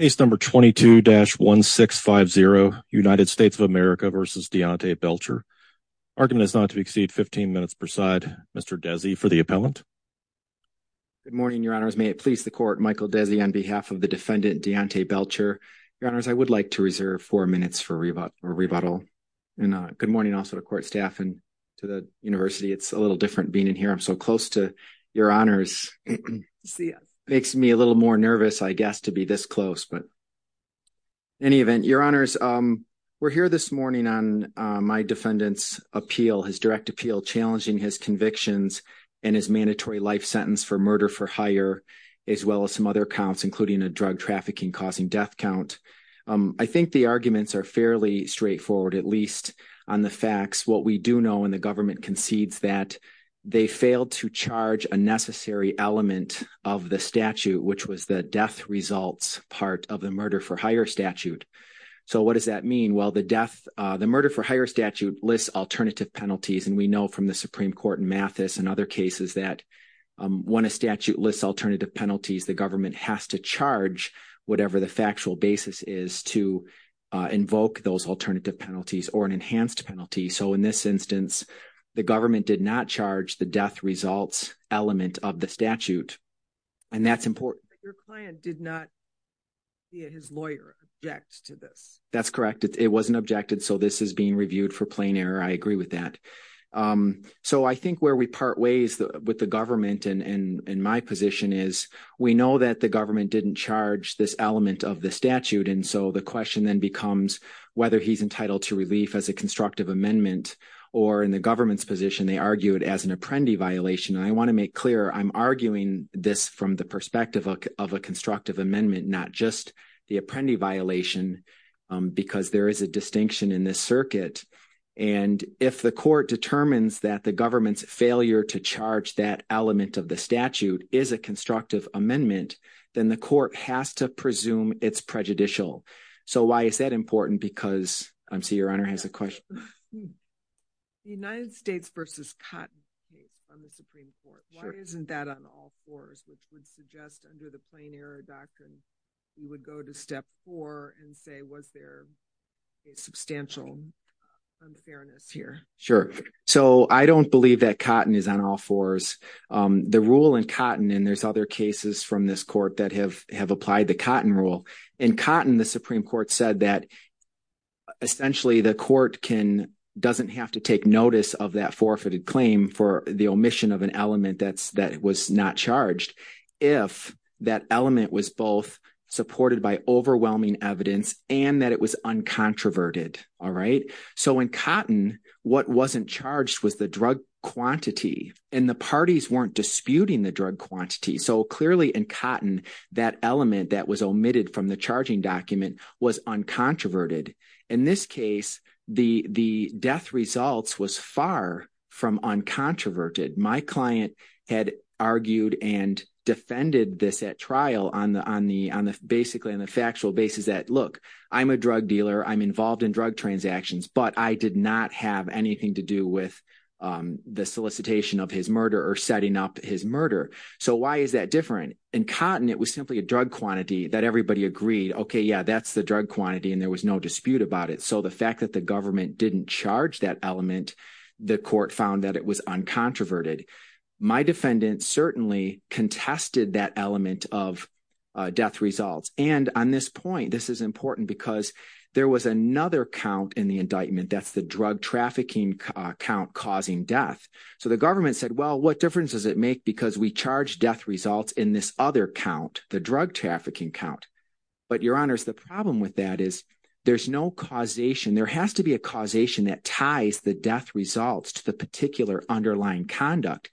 Case No. 22-1650, United States of America v. Deaunta Belcher. Argument is not to exceed 15 minutes per side. Mr. Desi for the appellant. Good morning, Your Honors. May it please the Court, Michael Desi on behalf of the defendant, Deaunta Belcher. Your Honors, I would like to reserve four minutes for rebuttal. Good morning also to Court staff and to the University. It's a little different being in here. I'm so close to Your Honors. It makes me a little more nervous, I guess, to be this close. In any event, Your Honors, we're here this morning on my defendant's appeal, his direct appeal, challenging his convictions and his mandatory life sentence for murder for hire, as well as some other counts, including a drug trafficking-causing death count. I think the arguments are fairly straightforward, at least on the facts. What we do know, and the government concedes that, they failed to charge a necessary element of the statute, which was the death results part of the murder for hire statute. So what does that mean? Well, the murder for hire statute lists alternative penalties, and we know from the Supreme Court in Mathis and other cases that when a statute lists alternative penalties, the government has to charge whatever the factual basis is to invoke those alternative penalties or an enhanced penalty. So in this instance, the government did not charge the death results element of the statute. And that's important. Your client did not, via his lawyer, object to this. That's correct. It wasn't objected, so this is being reviewed for plain error. I agree with that. So I think where we part ways with the government in my position is we know that the government didn't charge this element of the statute, and so the question then becomes whether he's entitled to relief as a constructive amendment, or in the government's position, they argue it as an apprendee violation. And I want to make clear I'm arguing this from the perspective of a constructive amendment, not just the apprendee violation, because there is a distinction in this circuit. And if the court determines that the government's failure to charge that element of the statute is a constructive amendment, then the court has to presume it's prejudicial. So why is that important? Because I see your honor has a question. The United States v. Cotton case from the Supreme Court, why isn't that on all fours, which would suggest under the plain error doctrine you would go to step four and say was there a substantial unfairness here? Sure. So I don't believe that Cotton is on all fours. The rule in Cotton, and there's other cases from this court that have applied the Cotton rule, in Cotton, the Supreme Court said that essentially the court doesn't have to take notice of that forfeited claim for the omission of an element that was not charged if that element was both supported by overwhelming evidence and that it was uncontroverted. So in Cotton, what wasn't charged was the drug quantity, and the parties weren't disputing the drug quantity. So clearly in Cotton, that element that was omitted from the charging document was uncontroverted. In this case, the death results was far from uncontroverted. My client had argued and defended this at trial basically on the factual basis that, look, I'm a drug dealer, I'm involved in drug transactions, but I did not have anything to do with the solicitation of his murder or setting up his murder. So why is that different? In Cotton, it was simply a drug quantity that everybody agreed, okay, yeah, that's the drug quantity, and there was no dispute about it. So the fact that the government didn't charge that element, the court found that it was uncontroverted. My defendant certainly contested that element of death results. And on this point, this is important because there was another count in the indictment. That's the drug trafficking count causing death. So the government said, well, what difference does it make because we charge death results in this other count, the drug trafficking count? But, Your Honors, the problem with that is there's no causation. There has to be a causation that ties the death results to the particular underlying conduct.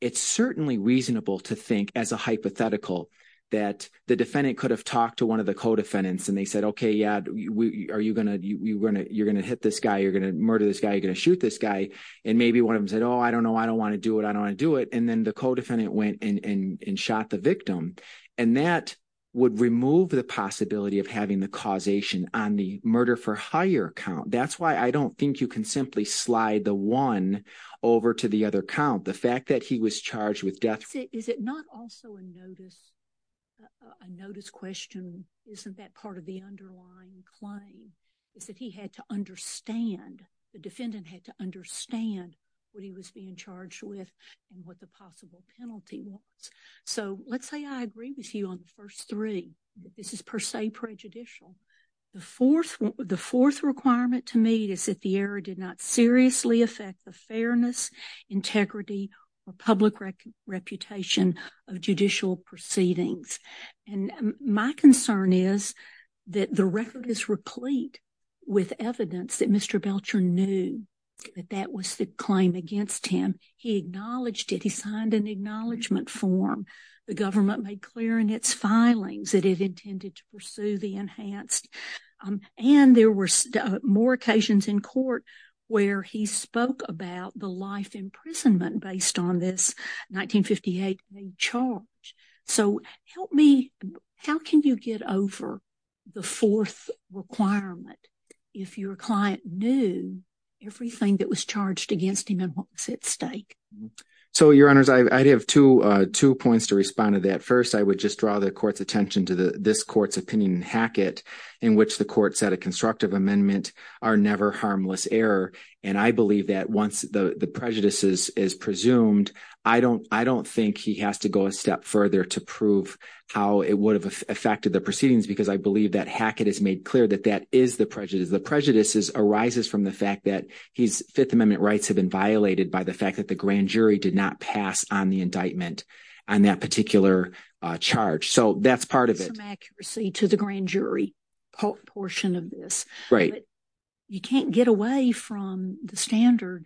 It's certainly reasonable to think as a hypothetical that the defendant could have talked to one of the co-defendants and they said, okay, yeah, are you going to hit this guy, you're going to murder this guy, you're going to shoot this guy? And maybe one of them said, oh, I don't know, I don't want to do it, I don't want to do it. And then the co-defendant went and shot the victim. And that would remove the possibility of having the causation on the murder-for-hire count. That's why I don't think you can simply slide the one over to the other count. The fact that he was charged with death. Is it not also a notice question? Isn't that part of the underlying claim? Is that he had to understand, the defendant had to understand what he was being charged with and what the possible penalty was. So, let's say I agree with you on the first three. This is per se prejudicial. The fourth requirement to meet is that the error did not seriously affect the fairness, integrity, or public reputation of judicial proceedings. And my concern is that the record is replete with evidence that Mr. Belcher knew that that was the claim against him. He acknowledged it, he signed an acknowledgement form. The government made clear in its filings that it intended to pursue the enhanced. And there were more occasions in court where he spoke about the life imprisonment based on this 1958 charge. So, help me, how can you get over the fourth requirement if your client knew everything that was charged against him and what was at stake? So, your honors, I'd have two points to respond to that. First, I would just draw the court's attention to this court's opinion in Hackett in which the court said a constructive amendment are never harmless error. And I believe that once the prejudice is presumed, I don't think he has to go a step further to prove how it would have affected the proceedings because I believe that Hackett has made clear that that is the prejudice. The prejudice arises from the fact that his Fifth Amendment rights have been violated by the fact that the grand jury did not pass on the indictment on that particular charge. So, that's part of it. Some accuracy to the grand jury portion of this. You can't get away from the standard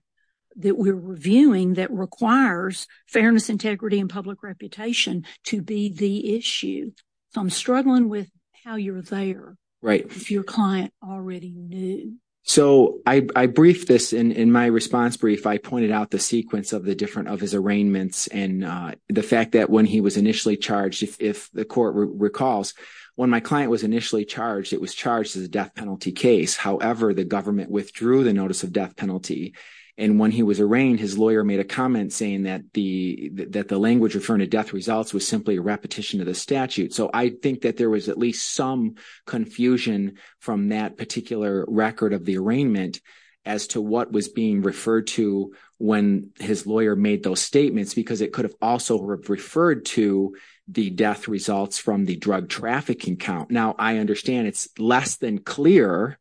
that we're reviewing that requires fairness, integrity, and public reputation to be the issue. So, I'm struggling with how you're there if your client already knew. So, I briefed this. In my response brief, I pointed out the sequence of his arraignments and the fact that when he was initially charged, if the court recalls, when my client was initially charged, it was charged as a death penalty case. However, the government withdrew the notice of death penalty. And when he was arraigned, his lawyer made a comment saying that the language referring to death results was simply a repetition of the statute. So, I think that there was at least some confusion from that particular record of the arraignment as to what was being referred to when his lawyer made those statements because it could have also referred to the death results from the drug trafficking count. Now, I understand it's less than clear,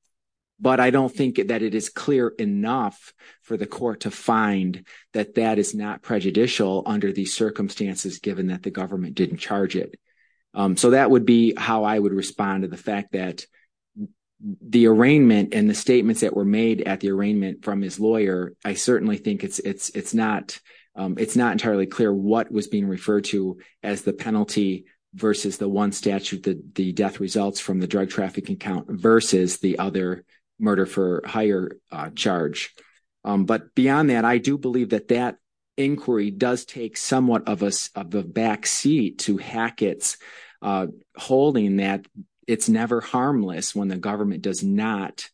but I don't think that it is clear enough for the court to find that that is not prejudicial under these circumstances given that the government didn't charge it. So, that would be how I would respond to the fact that the arraignment and the statements that were made at the arraignment from his lawyer, I certainly think it's not entirely clear what was being referred to as the penalty versus the one statute, the death results from the drug trafficking count versus the other murder for hire charge. But beyond that, I do believe that that inquiry does take somewhat of a backseat to Hackett's holding that it's never harmless when the government does not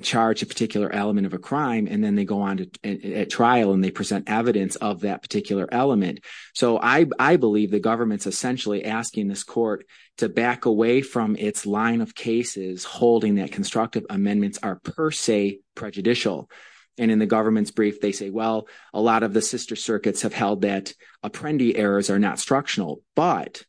charge a particular element of a crime, and then they go on at trial and they present evidence of that particular element. So, I believe the government's essentially asking this court to back away from its line of cases holding that constructive amendments are per se prejudicial. And in the government's brief, they say, well, a lot of the sister circuits have held that apprendee errors are not structural. But,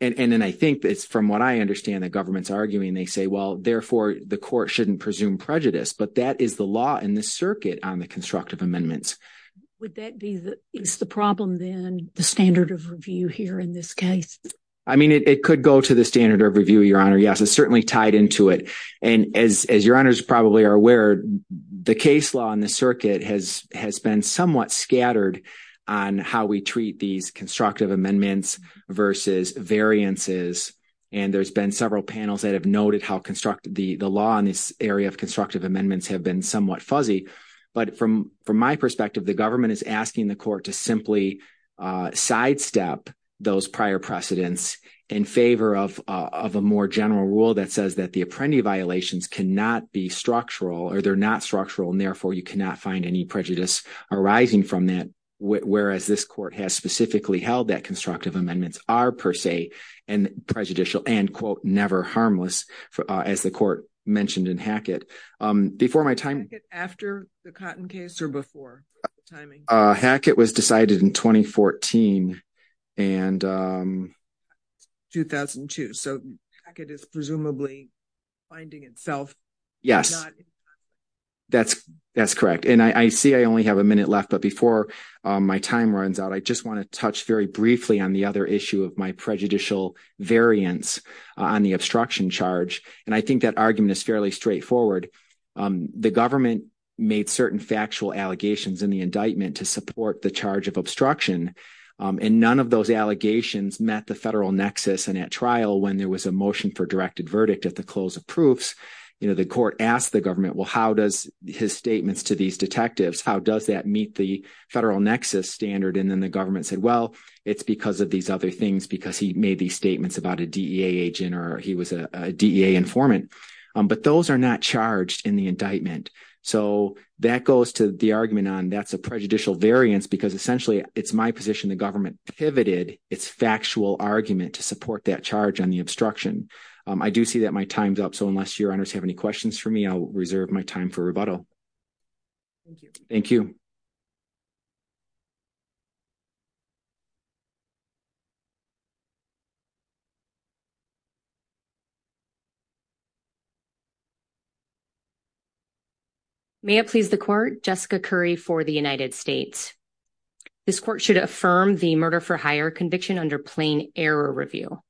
and then I think it's from what I understand the government's arguing, they say, well, therefore, the court shouldn't presume prejudice, but that is the law in the circuit on the constructive amendments. Would that be the problem then, the standard of review here in this case? I mean, it could go to the standard of review, Your Honor. Yes, it's certainly tied into it. And as Your Honors probably are aware, the case law in the circuit has been somewhat scattered on how we treat these constructive amendments versus variances. And there's been several panels that have noted how the law in this area of constructive amendments have been somewhat fuzzy. But from my perspective, the government is asking the court to simply sidestep those prior precedents in favor of a more general rule that says that the apprendee violations cannot be structural or they're not structural, and therefore, you cannot find any prejudice arising from that, whereas this court has specifically held that constructive amendments are per se. And prejudicial and, quote, never harmless, as the court mentioned in Hackett. Before my time... Hackett after the Cotton case or before? Hackett was decided in 2014 and... 2002, so Hackett is presumably finding itself... Yes, that's correct. And I see I only have a minute left, but before my time runs out, I just want to touch very briefly on the other issue of my prejudicial variance on the obstruction charge. And I think that argument is fairly straightforward. The government made certain factual allegations in the indictment to support the charge of obstruction, and none of those allegations met the federal nexus. And at trial, when there was a motion for directed verdict at the close of proofs, the court asked the government, well, how does his statements to these detectives, how does that meet the federal nexus standard? And then the government said, well, it's because of these other things, because he made these statements about a DEA agent or he was a DEA informant. But those are not charged in the indictment. So that goes to the argument on that's a prejudicial variance, because essentially it's my position the government pivoted its factual argument to support that charge on the obstruction. I do see that my time's up. So unless your honors have any questions for me, I'll reserve my time for rebuttal. Thank you. Thank you. May it please the court, Jessica Curry for the United States. This court should affirm the murder for hire conviction under plain error review.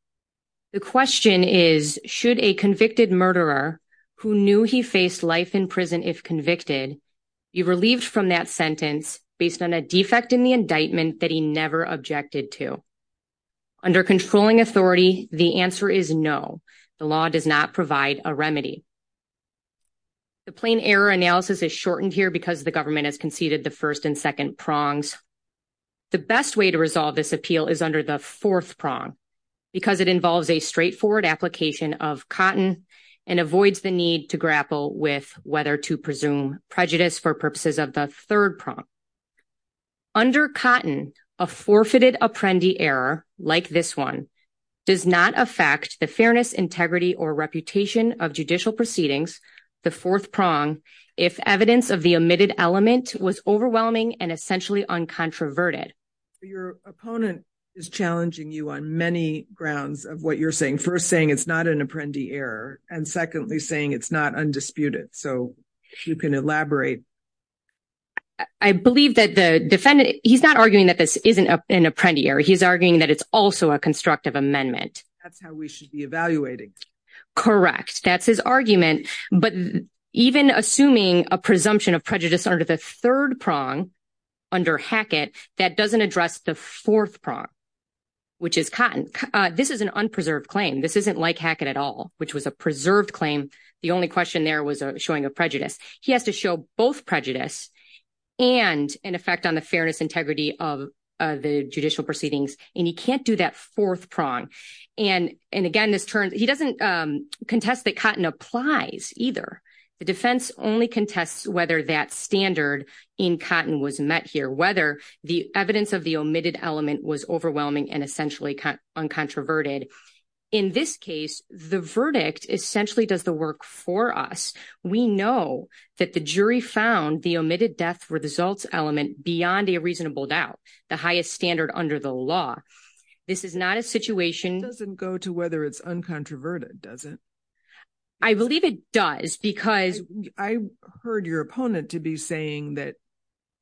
The question is, should a convicted murderer who knew he faced life in prison if convicted, be relieved from that sentence based on a defect in the indictment that he never objected to? Under controlling authority, the answer is no. The law does not provide a remedy. The plain error analysis is shortened here because the government has conceded the first and second prongs. The best way to resolve this appeal is under the fourth prong because it involves a straightforward application of cotton and avoids the need to grapple with whether to presume prejudice for purposes of the third prong. Under cotton, a forfeited apprendi error like this one does not affect the fairness, integrity, or reputation of judicial proceedings, the fourth prong, if evidence of the omitted element was overwhelming and essentially uncontroverted. Your opponent is challenging you on many grounds of what you're saying. First, saying it's not an apprendi error. And secondly, saying it's not undisputed. So, if you can elaborate. I believe that the defendant, he's not arguing that this isn't an apprendi error. He's arguing that it's also a constructive amendment. That's how we should be evaluating. Correct. That's his argument. But even assuming a presumption of prejudice under the third prong, under Hackett, that doesn't address the fourth prong, which is cotton. This is an unpreserved claim. This isn't like Hackett at all, which was a preserved claim. The only question there was showing a prejudice. He has to show both prejudice and an effect on the fairness, integrity of the judicial proceedings. And he can't do that fourth prong. And again, he doesn't contest that cotton applies either. The defense only contests whether that standard in cotton was met here. Whether the evidence of the omitted element was overwhelming and essentially uncontroverted. In this case, the verdict essentially does the work for us. We know that the jury found the omitted death results element beyond a reasonable doubt. The highest standard under the law. This is not a situation. It doesn't go to whether it's uncontroverted, does it? I believe it does, because. I heard your opponent to be saying that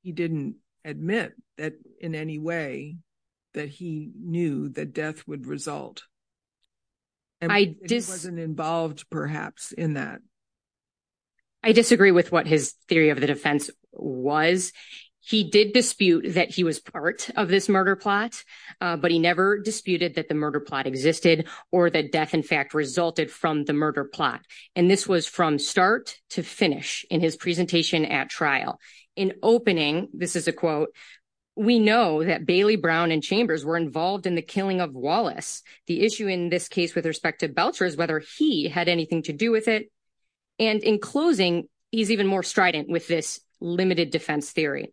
he didn't admit that in any way that he knew that death would result. And he wasn't involved, perhaps, in that. I disagree with what his theory of the defense was. He did dispute that he was part of this murder plot. But he never disputed that the murder plot existed or that death, in fact, resulted from the murder plot. And this was from start to finish in his presentation at trial. In opening, this is a quote. We know that Bailey Brown and Chambers were involved in the killing of Wallace. The issue in this case with respect to Belcher is whether he had anything to do with it. And in closing, he's even more strident with this limited defense theory.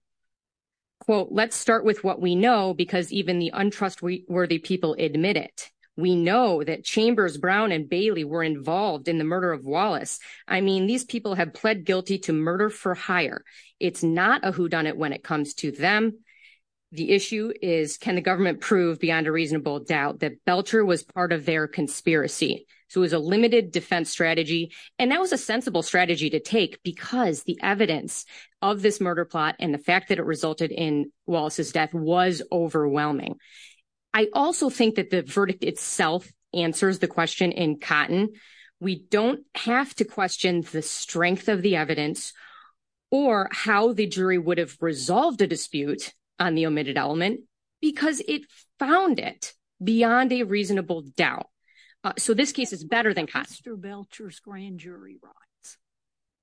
Quote, let's start with what we know, because even the untrustworthy people admit it. We know that Chambers, Brown, and Bailey were involved in the murder of Wallace. I mean, these people have pled guilty to murder for hire. It's not a whodunit when it comes to them. The issue is can the government prove beyond a reasonable doubt that Belcher was part of their conspiracy? So it was a limited defense strategy, and that was a sensible strategy to take because the evidence of this murder plot and the fact that it resulted in Wallace's death was overwhelming. I also think that the verdict itself answers the question in cotton. We don't have to question the strength of the evidence or how the jury would have resolved a dispute on the omitted element because it found it beyond a reasonable doubt. So this case is better than cotton. Mr. Belcher's grand jury rights.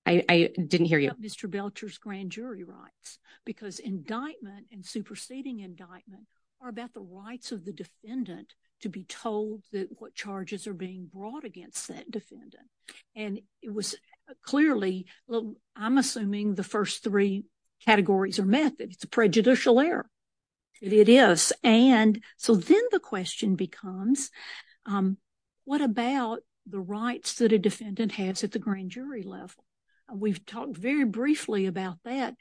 I didn't hear you. Mr. Belcher's grand jury rights, because indictment and superseding indictment are about the rights of the defendant to be told what charges are being brought against that defendant. And it was clearly, I'm assuming the first three categories are methods. It's a prejudicial error. It is. And so then the question becomes what about the rights that a defendant has at the grand jury level? We've talked very briefly about that.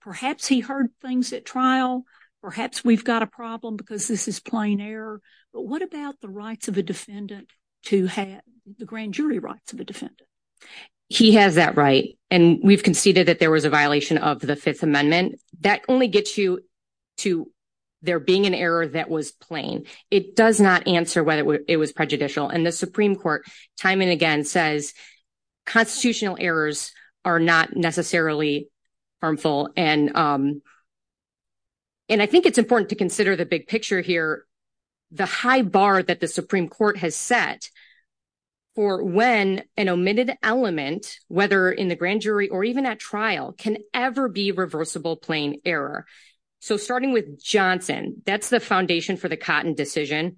Perhaps he heard things at trial. Perhaps we've got a problem because this is plain error. But what about the rights of a defendant to have the grand jury rights of a defendant? He has that right. And we've conceded that there was a violation of the Fifth Amendment. That only gets you to there being an error that was plain. It does not answer whether it was prejudicial. And the Supreme Court time and again says constitutional errors are not necessarily harmful. And I think it's important to consider the big picture here, the high bar that the Supreme Court has set for when an omitted element, whether in the grand jury or even at trial, can ever be reversible plain error. So starting with Johnson, that's the foundation for the Cotton decision.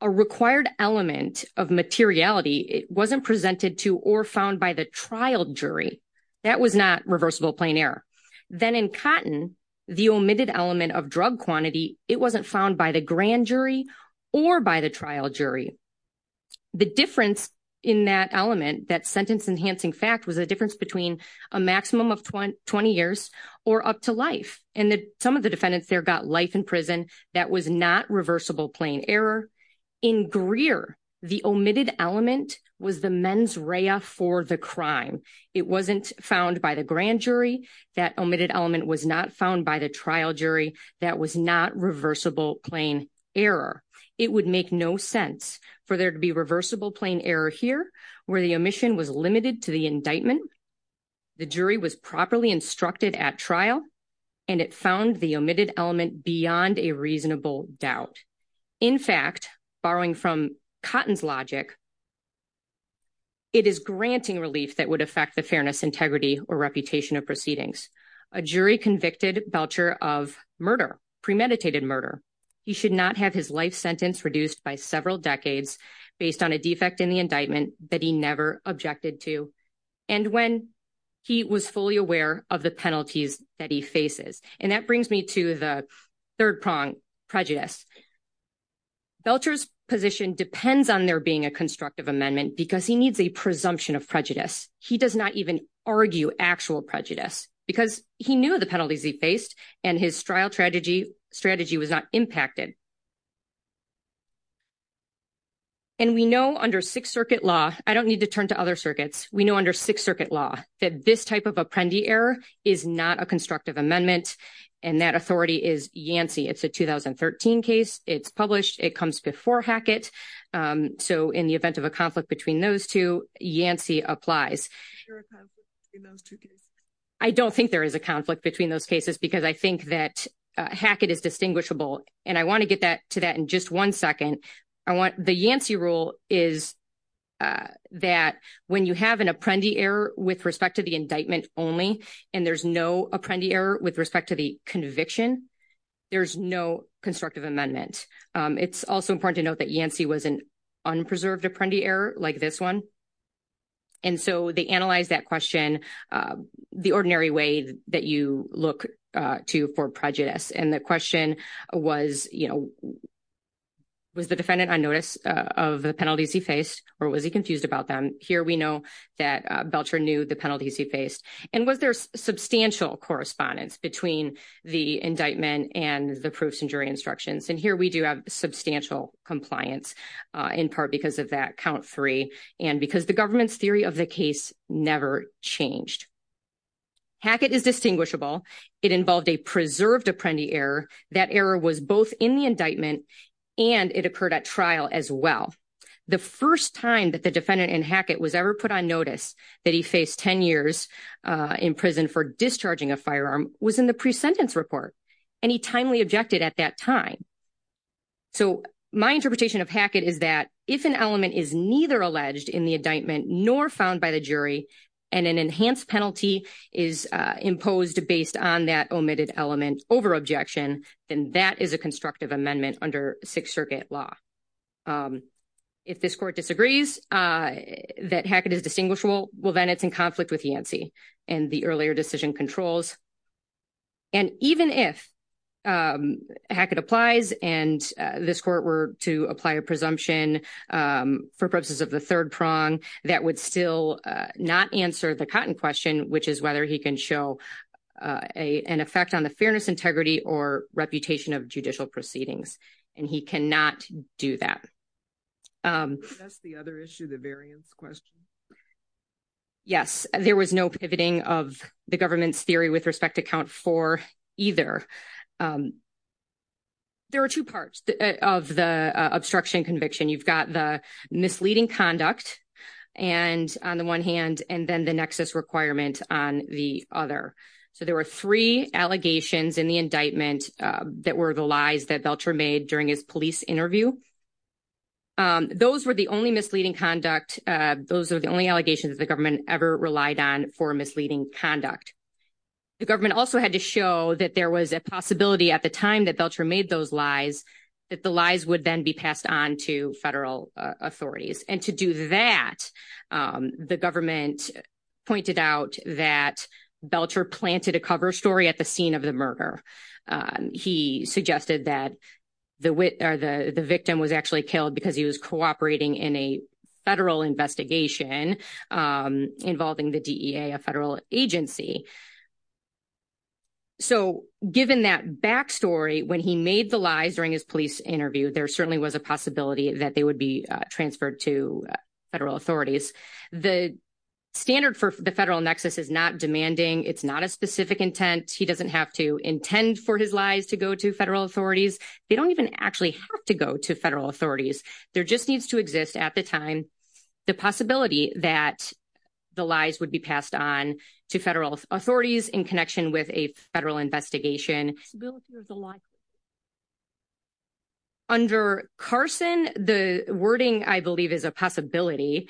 A required element of materiality wasn't presented to or found by the trial jury. That was not reversible plain error. Then in Cotton, the omitted element of drug quantity, it wasn't found by the grand jury or by the trial jury. The difference in that element, that sentence-enhancing fact, was a difference between a maximum of 20 years or up to life. And some of the defendants there got life in prison. That was not reversible plain error. In Greer, the omitted element was the mens rea for the crime. It wasn't found by the grand jury. That omitted element was not found by the trial jury. That was not reversible plain error. It would make no sense for there to be reversible plain error here where the omission was limited to the indictment, the jury was properly instructed at trial, and it found the omitted element beyond a reasonable doubt. In fact, borrowing from Cotton's logic, it is granting relief that would affect the fairness, integrity, or reputation of proceedings. A jury convicted Belcher of murder, premeditated murder. He should not have his life sentence reduced by several decades based on a defect in the indictment that he never objected to and when he was fully aware of the penalties that he faces. And that brings me to the third prong, prejudice. Belcher's position depends on there being a constructive amendment because he needs a presumption of prejudice. He does not even argue actual prejudice because he knew the penalties he faced and his trial strategy was not impacted. And we know under Sixth Circuit law, I don't need to turn to other circuits, we know under Sixth Circuit law that this type of apprendi error is not a constructive amendment, and that authority is Yancey. It's a 2013 case. It's published. It comes before Hackett. So in the event of a conflict between those two, Yancey applies. I don't think there is a conflict between those cases because I think that Hackett is distinguishable. And I want to get to that in just one second. The Yancey rule is that when you have an apprendi error with respect to the indictment only and there's no apprendi error with respect to the conviction, there's no constructive amendment. It's also important to note that Yancey was an unpreserved apprendi error like this one. And so they analyzed that question the ordinary way that you look to for prejudice. And the question was, you know, was the defendant on notice of the penalties he faced or was he confused about them? Here we know that Belcher knew the penalties he faced. And was there substantial correspondence between the indictment and the proofs and jury instructions? And here we do have substantial compliance in part because of that count three and because the government's theory of the case never changed. Hackett is distinguishable. It involved a preserved apprendi error. That error was both in the indictment and it occurred at trial as well. The first time that the defendant in Hackett was ever put on notice that he faced 10 years in prison for discharging a firearm was in the presentence report. And he timely objected at that time. So my interpretation of Hackett is that if an element is neither alleged in the indictment nor found by the jury, and an enhanced penalty is imposed based on that omitted element over objection, then that is a constructive amendment under Sixth Circuit law. If this court disagrees that Hackett is distinguishable, well, then it's in conflict with Yancey and the earlier decision controls. And even if Hackett applies and this court were to apply a presumption for purposes of the third prong, that would still not answer the cotton question, which is whether he can show an effect on the fairness, integrity or reputation of judicial proceedings. And he cannot do that. That's the other issue, the variance question. Yes, there was no pivoting of the government's theory with respect to count for either. There are two parts of the obstruction conviction. You've got the misleading conduct and on the one hand, and then the nexus requirement on the other. So there were three allegations in the indictment that were the lies that Belcher made during his police interview. Those were the only misleading conduct. Those are the only allegations the government ever relied on for misleading conduct. The government also had to show that there was a possibility at the time that Belcher made those lies, that the lies would then be passed on to federal authorities. And to do that, the government pointed out that Belcher planted a cover story at the scene of the murder. He suggested that the victim was actually killed because he was cooperating in a federal investigation involving the DEA, a federal agency. So given that backstory, when he made the lies during his police interview, there certainly was a possibility that they would be transferred to federal authorities. The standard for the federal nexus is not demanding. It's not a specific intent. He doesn't have to intend for his lies to go to federal authorities. They don't even actually have to go to federal authorities. There just needs to exist at the time the possibility that the lies would be passed on to federal authorities in connection with a federal investigation. Under Carson, the wording, I believe, is a possibility.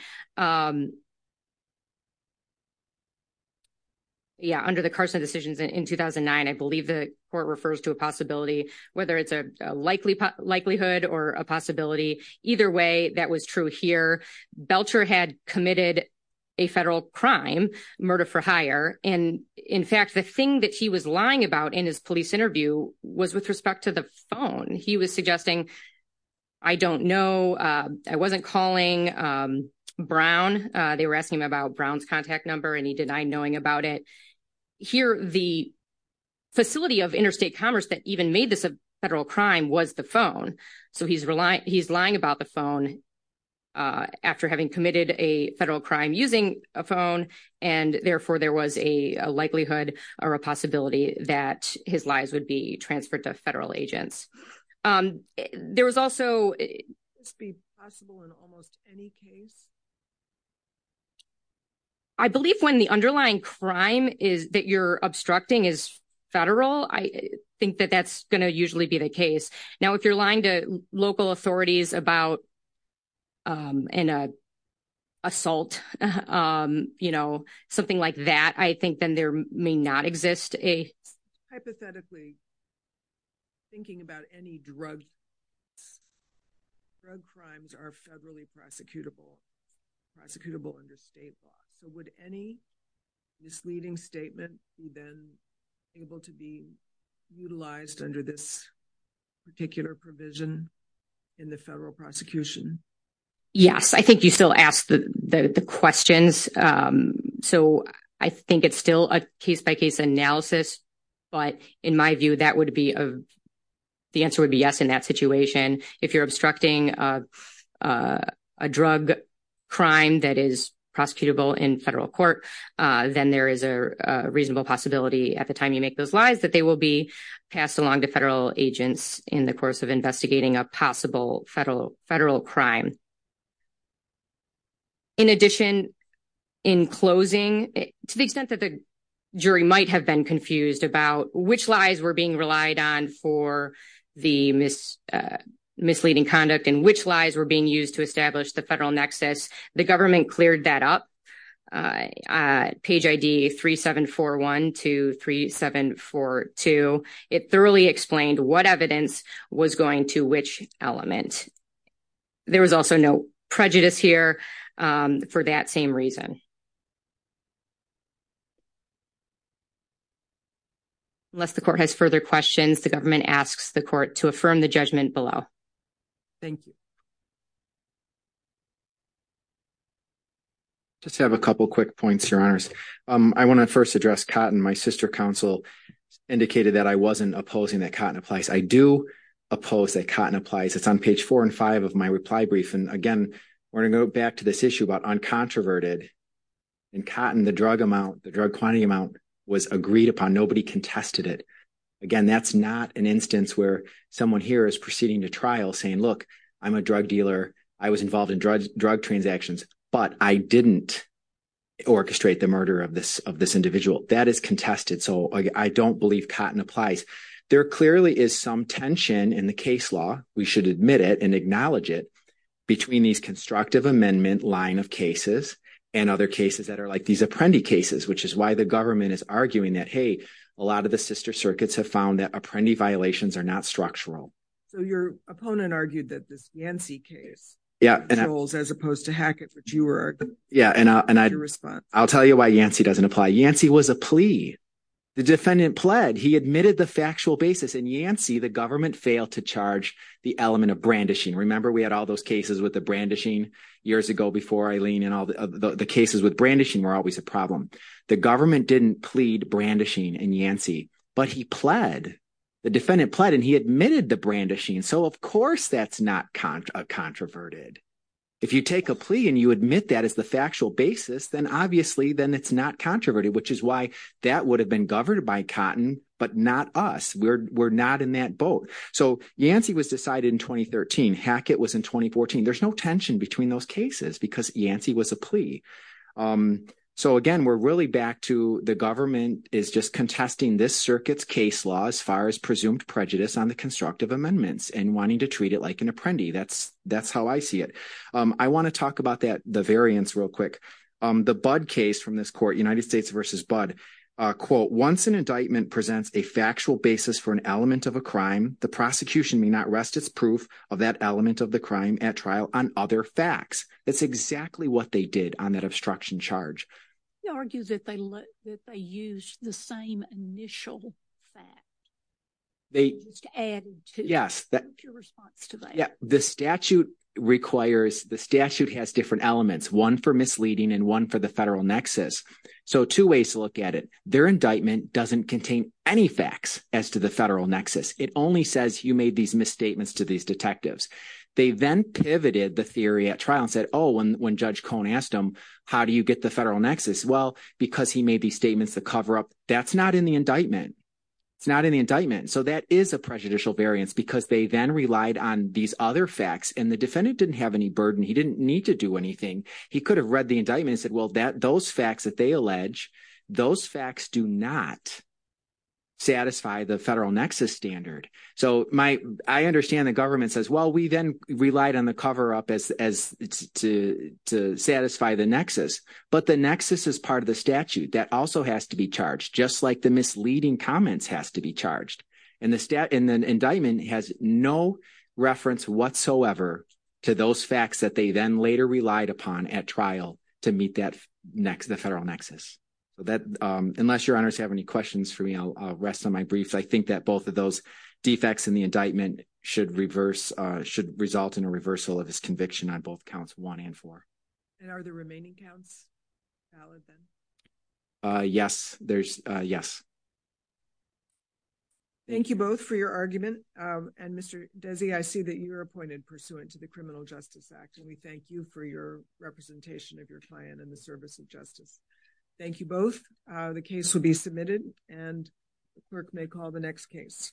Yeah, under the Carson decisions in 2009, I believe the court refers to a possibility, whether it's a likelihood or a possibility. Either way, that was true here. Belcher had committed a federal crime, murder for hire. In fact, the thing that he was lying about in his police interview was with respect to the phone. He was suggesting, I don't know. I wasn't calling Brown. They were asking him about Brown's contact number, and he denied knowing about it. Here, the facility of interstate commerce that even made this a federal crime was the phone. So he's lying about the phone after having committed a federal crime using a phone, and therefore, there was a likelihood or a possibility that his lies would be transferred to federal agents. There was also... I believe when the underlying crime that you're obstructing is federal, I think that that's going to usually be the case. Now, if you're lying to local authorities about an assault, something like that, I think then there may not exist a... Hypothetically, thinking about any drug crimes are federally prosecutable, prosecutable under state law. So would any misleading statement be then able to be utilized under this particular provision in the federal prosecution? Yes, I think you still asked the questions. So I think it's still a case-by-case analysis, but in my view, that would be... The answer would be yes in that situation. If you're obstructing a drug crime that is prosecutable in federal court, then there is a reasonable possibility at the time you make those lies that they will be passed along to federal agents in the course of investigating a possible federal crime. In addition, in closing, to the extent that the jury might have been confused about which lies were being relied on for the misleading conduct and which lies were being used to establish the federal nexus, the government cleared that up. Page ID 3741 to 3742. It thoroughly explained what evidence was going to which element. There was also no prejudice here for that same reason. Unless the court has further questions, the government asks the court to affirm the judgment below. Thank you. Just have a couple quick points, Your Honors. I want to first address cotton. My sister counsel indicated that I wasn't opposing that cotton applies. I do oppose that cotton applies. It's on page four and five of my reply brief. And again, we're going to go back to this issue about uncontroverted. In cotton, the drug amount, the drug quantity amount was agreed upon. Nobody contested it. Again, that's not an instance where someone here is proceeding to trial saying, look, I'm a drug dealer. I was involved in drug transactions, but I didn't orchestrate the murder of this individual. That is contested. So I don't believe cotton applies. There clearly is some tension in the case law. We should admit it and acknowledge it between these constructive amendment line of cases and other cases that are like these Apprendi cases, which is why the government is arguing that, hey, a lot of the sister circuits have found that Apprendi violations are not structural. So your opponent argued that this Yancey case controls as opposed to Hackett, which you were in response. I'll tell you why Yancey doesn't apply. Yancey was a plea. The defendant pled. He admitted the factual basis. In Yancey, the government failed to charge the element of brandishing. Remember, we had all those cases with the brandishing years ago before, Eileen, and all the cases with brandishing were always a problem. The government didn't plead brandishing in Yancey, but he pled. The defendant pled, and he admitted the brandishing. So, of course, that's not a controverted. If you take a plea and you admit that as the factual basis, then obviously then it's not controverted, which is why that would have been governed by cotton, but not us. We're not in that boat. So Yancey was decided in 2013. Hackett was in 2014. There's no tension between those cases because Yancey was a plea. So, again, we're really back to the government is just contesting this circuit's case law as far as presumed prejudice on the constructive amendments and wanting to treat it like an Apprendi. That's how I see it. I want to talk about the variance real quick. The Budd case from this court, United States v. Budd, quote, once an indictment presents a factual basis for an element of a crime, the prosecution may not rest its proof of that element of the crime at trial on other facts. That's exactly what they did on that obstruction charge. He argues that they used the same initial fact. Yes. Your response to that. The statute has different elements, one for misleading and one for the federal nexus. So two ways to look at it. Their indictment doesn't contain any facts as to the federal nexus. It only says you made these misstatements to these detectives. They then pivoted the theory at trial and said, oh, when Judge Cohn asked them, how do you get the federal nexus? Well, because he made these statements to cover up. That's not in the indictment. It's not in the indictment. So that is a prejudicial variance because they then relied on these other facts. And the defendant didn't have any burden. He didn't need to do anything. He could have read the indictment and said, well, those facts that they allege, those facts do not satisfy the federal nexus standard. So I understand the government says, well, we then relied on the cover-up to satisfy the nexus. But the nexus is part of the statute. That also has to be charged, just like the misleading comments has to be charged. And the indictment has no reference whatsoever to those facts that they then later relied upon at trial to meet the federal nexus. Unless your honors have any questions for me, I'll rest on my briefs. I think that both of those defects in the indictment should result in a reversal of his conviction on both counts one and four. And are the remaining counts valid then? Yes. Thank you both for your argument. And Mr. Desi, I see that you're appointed pursuant to the Criminal Justice Act. And we thank you for your representation of your client in the service of justice. Thank you both. The case will be submitted and the clerk may call the next case.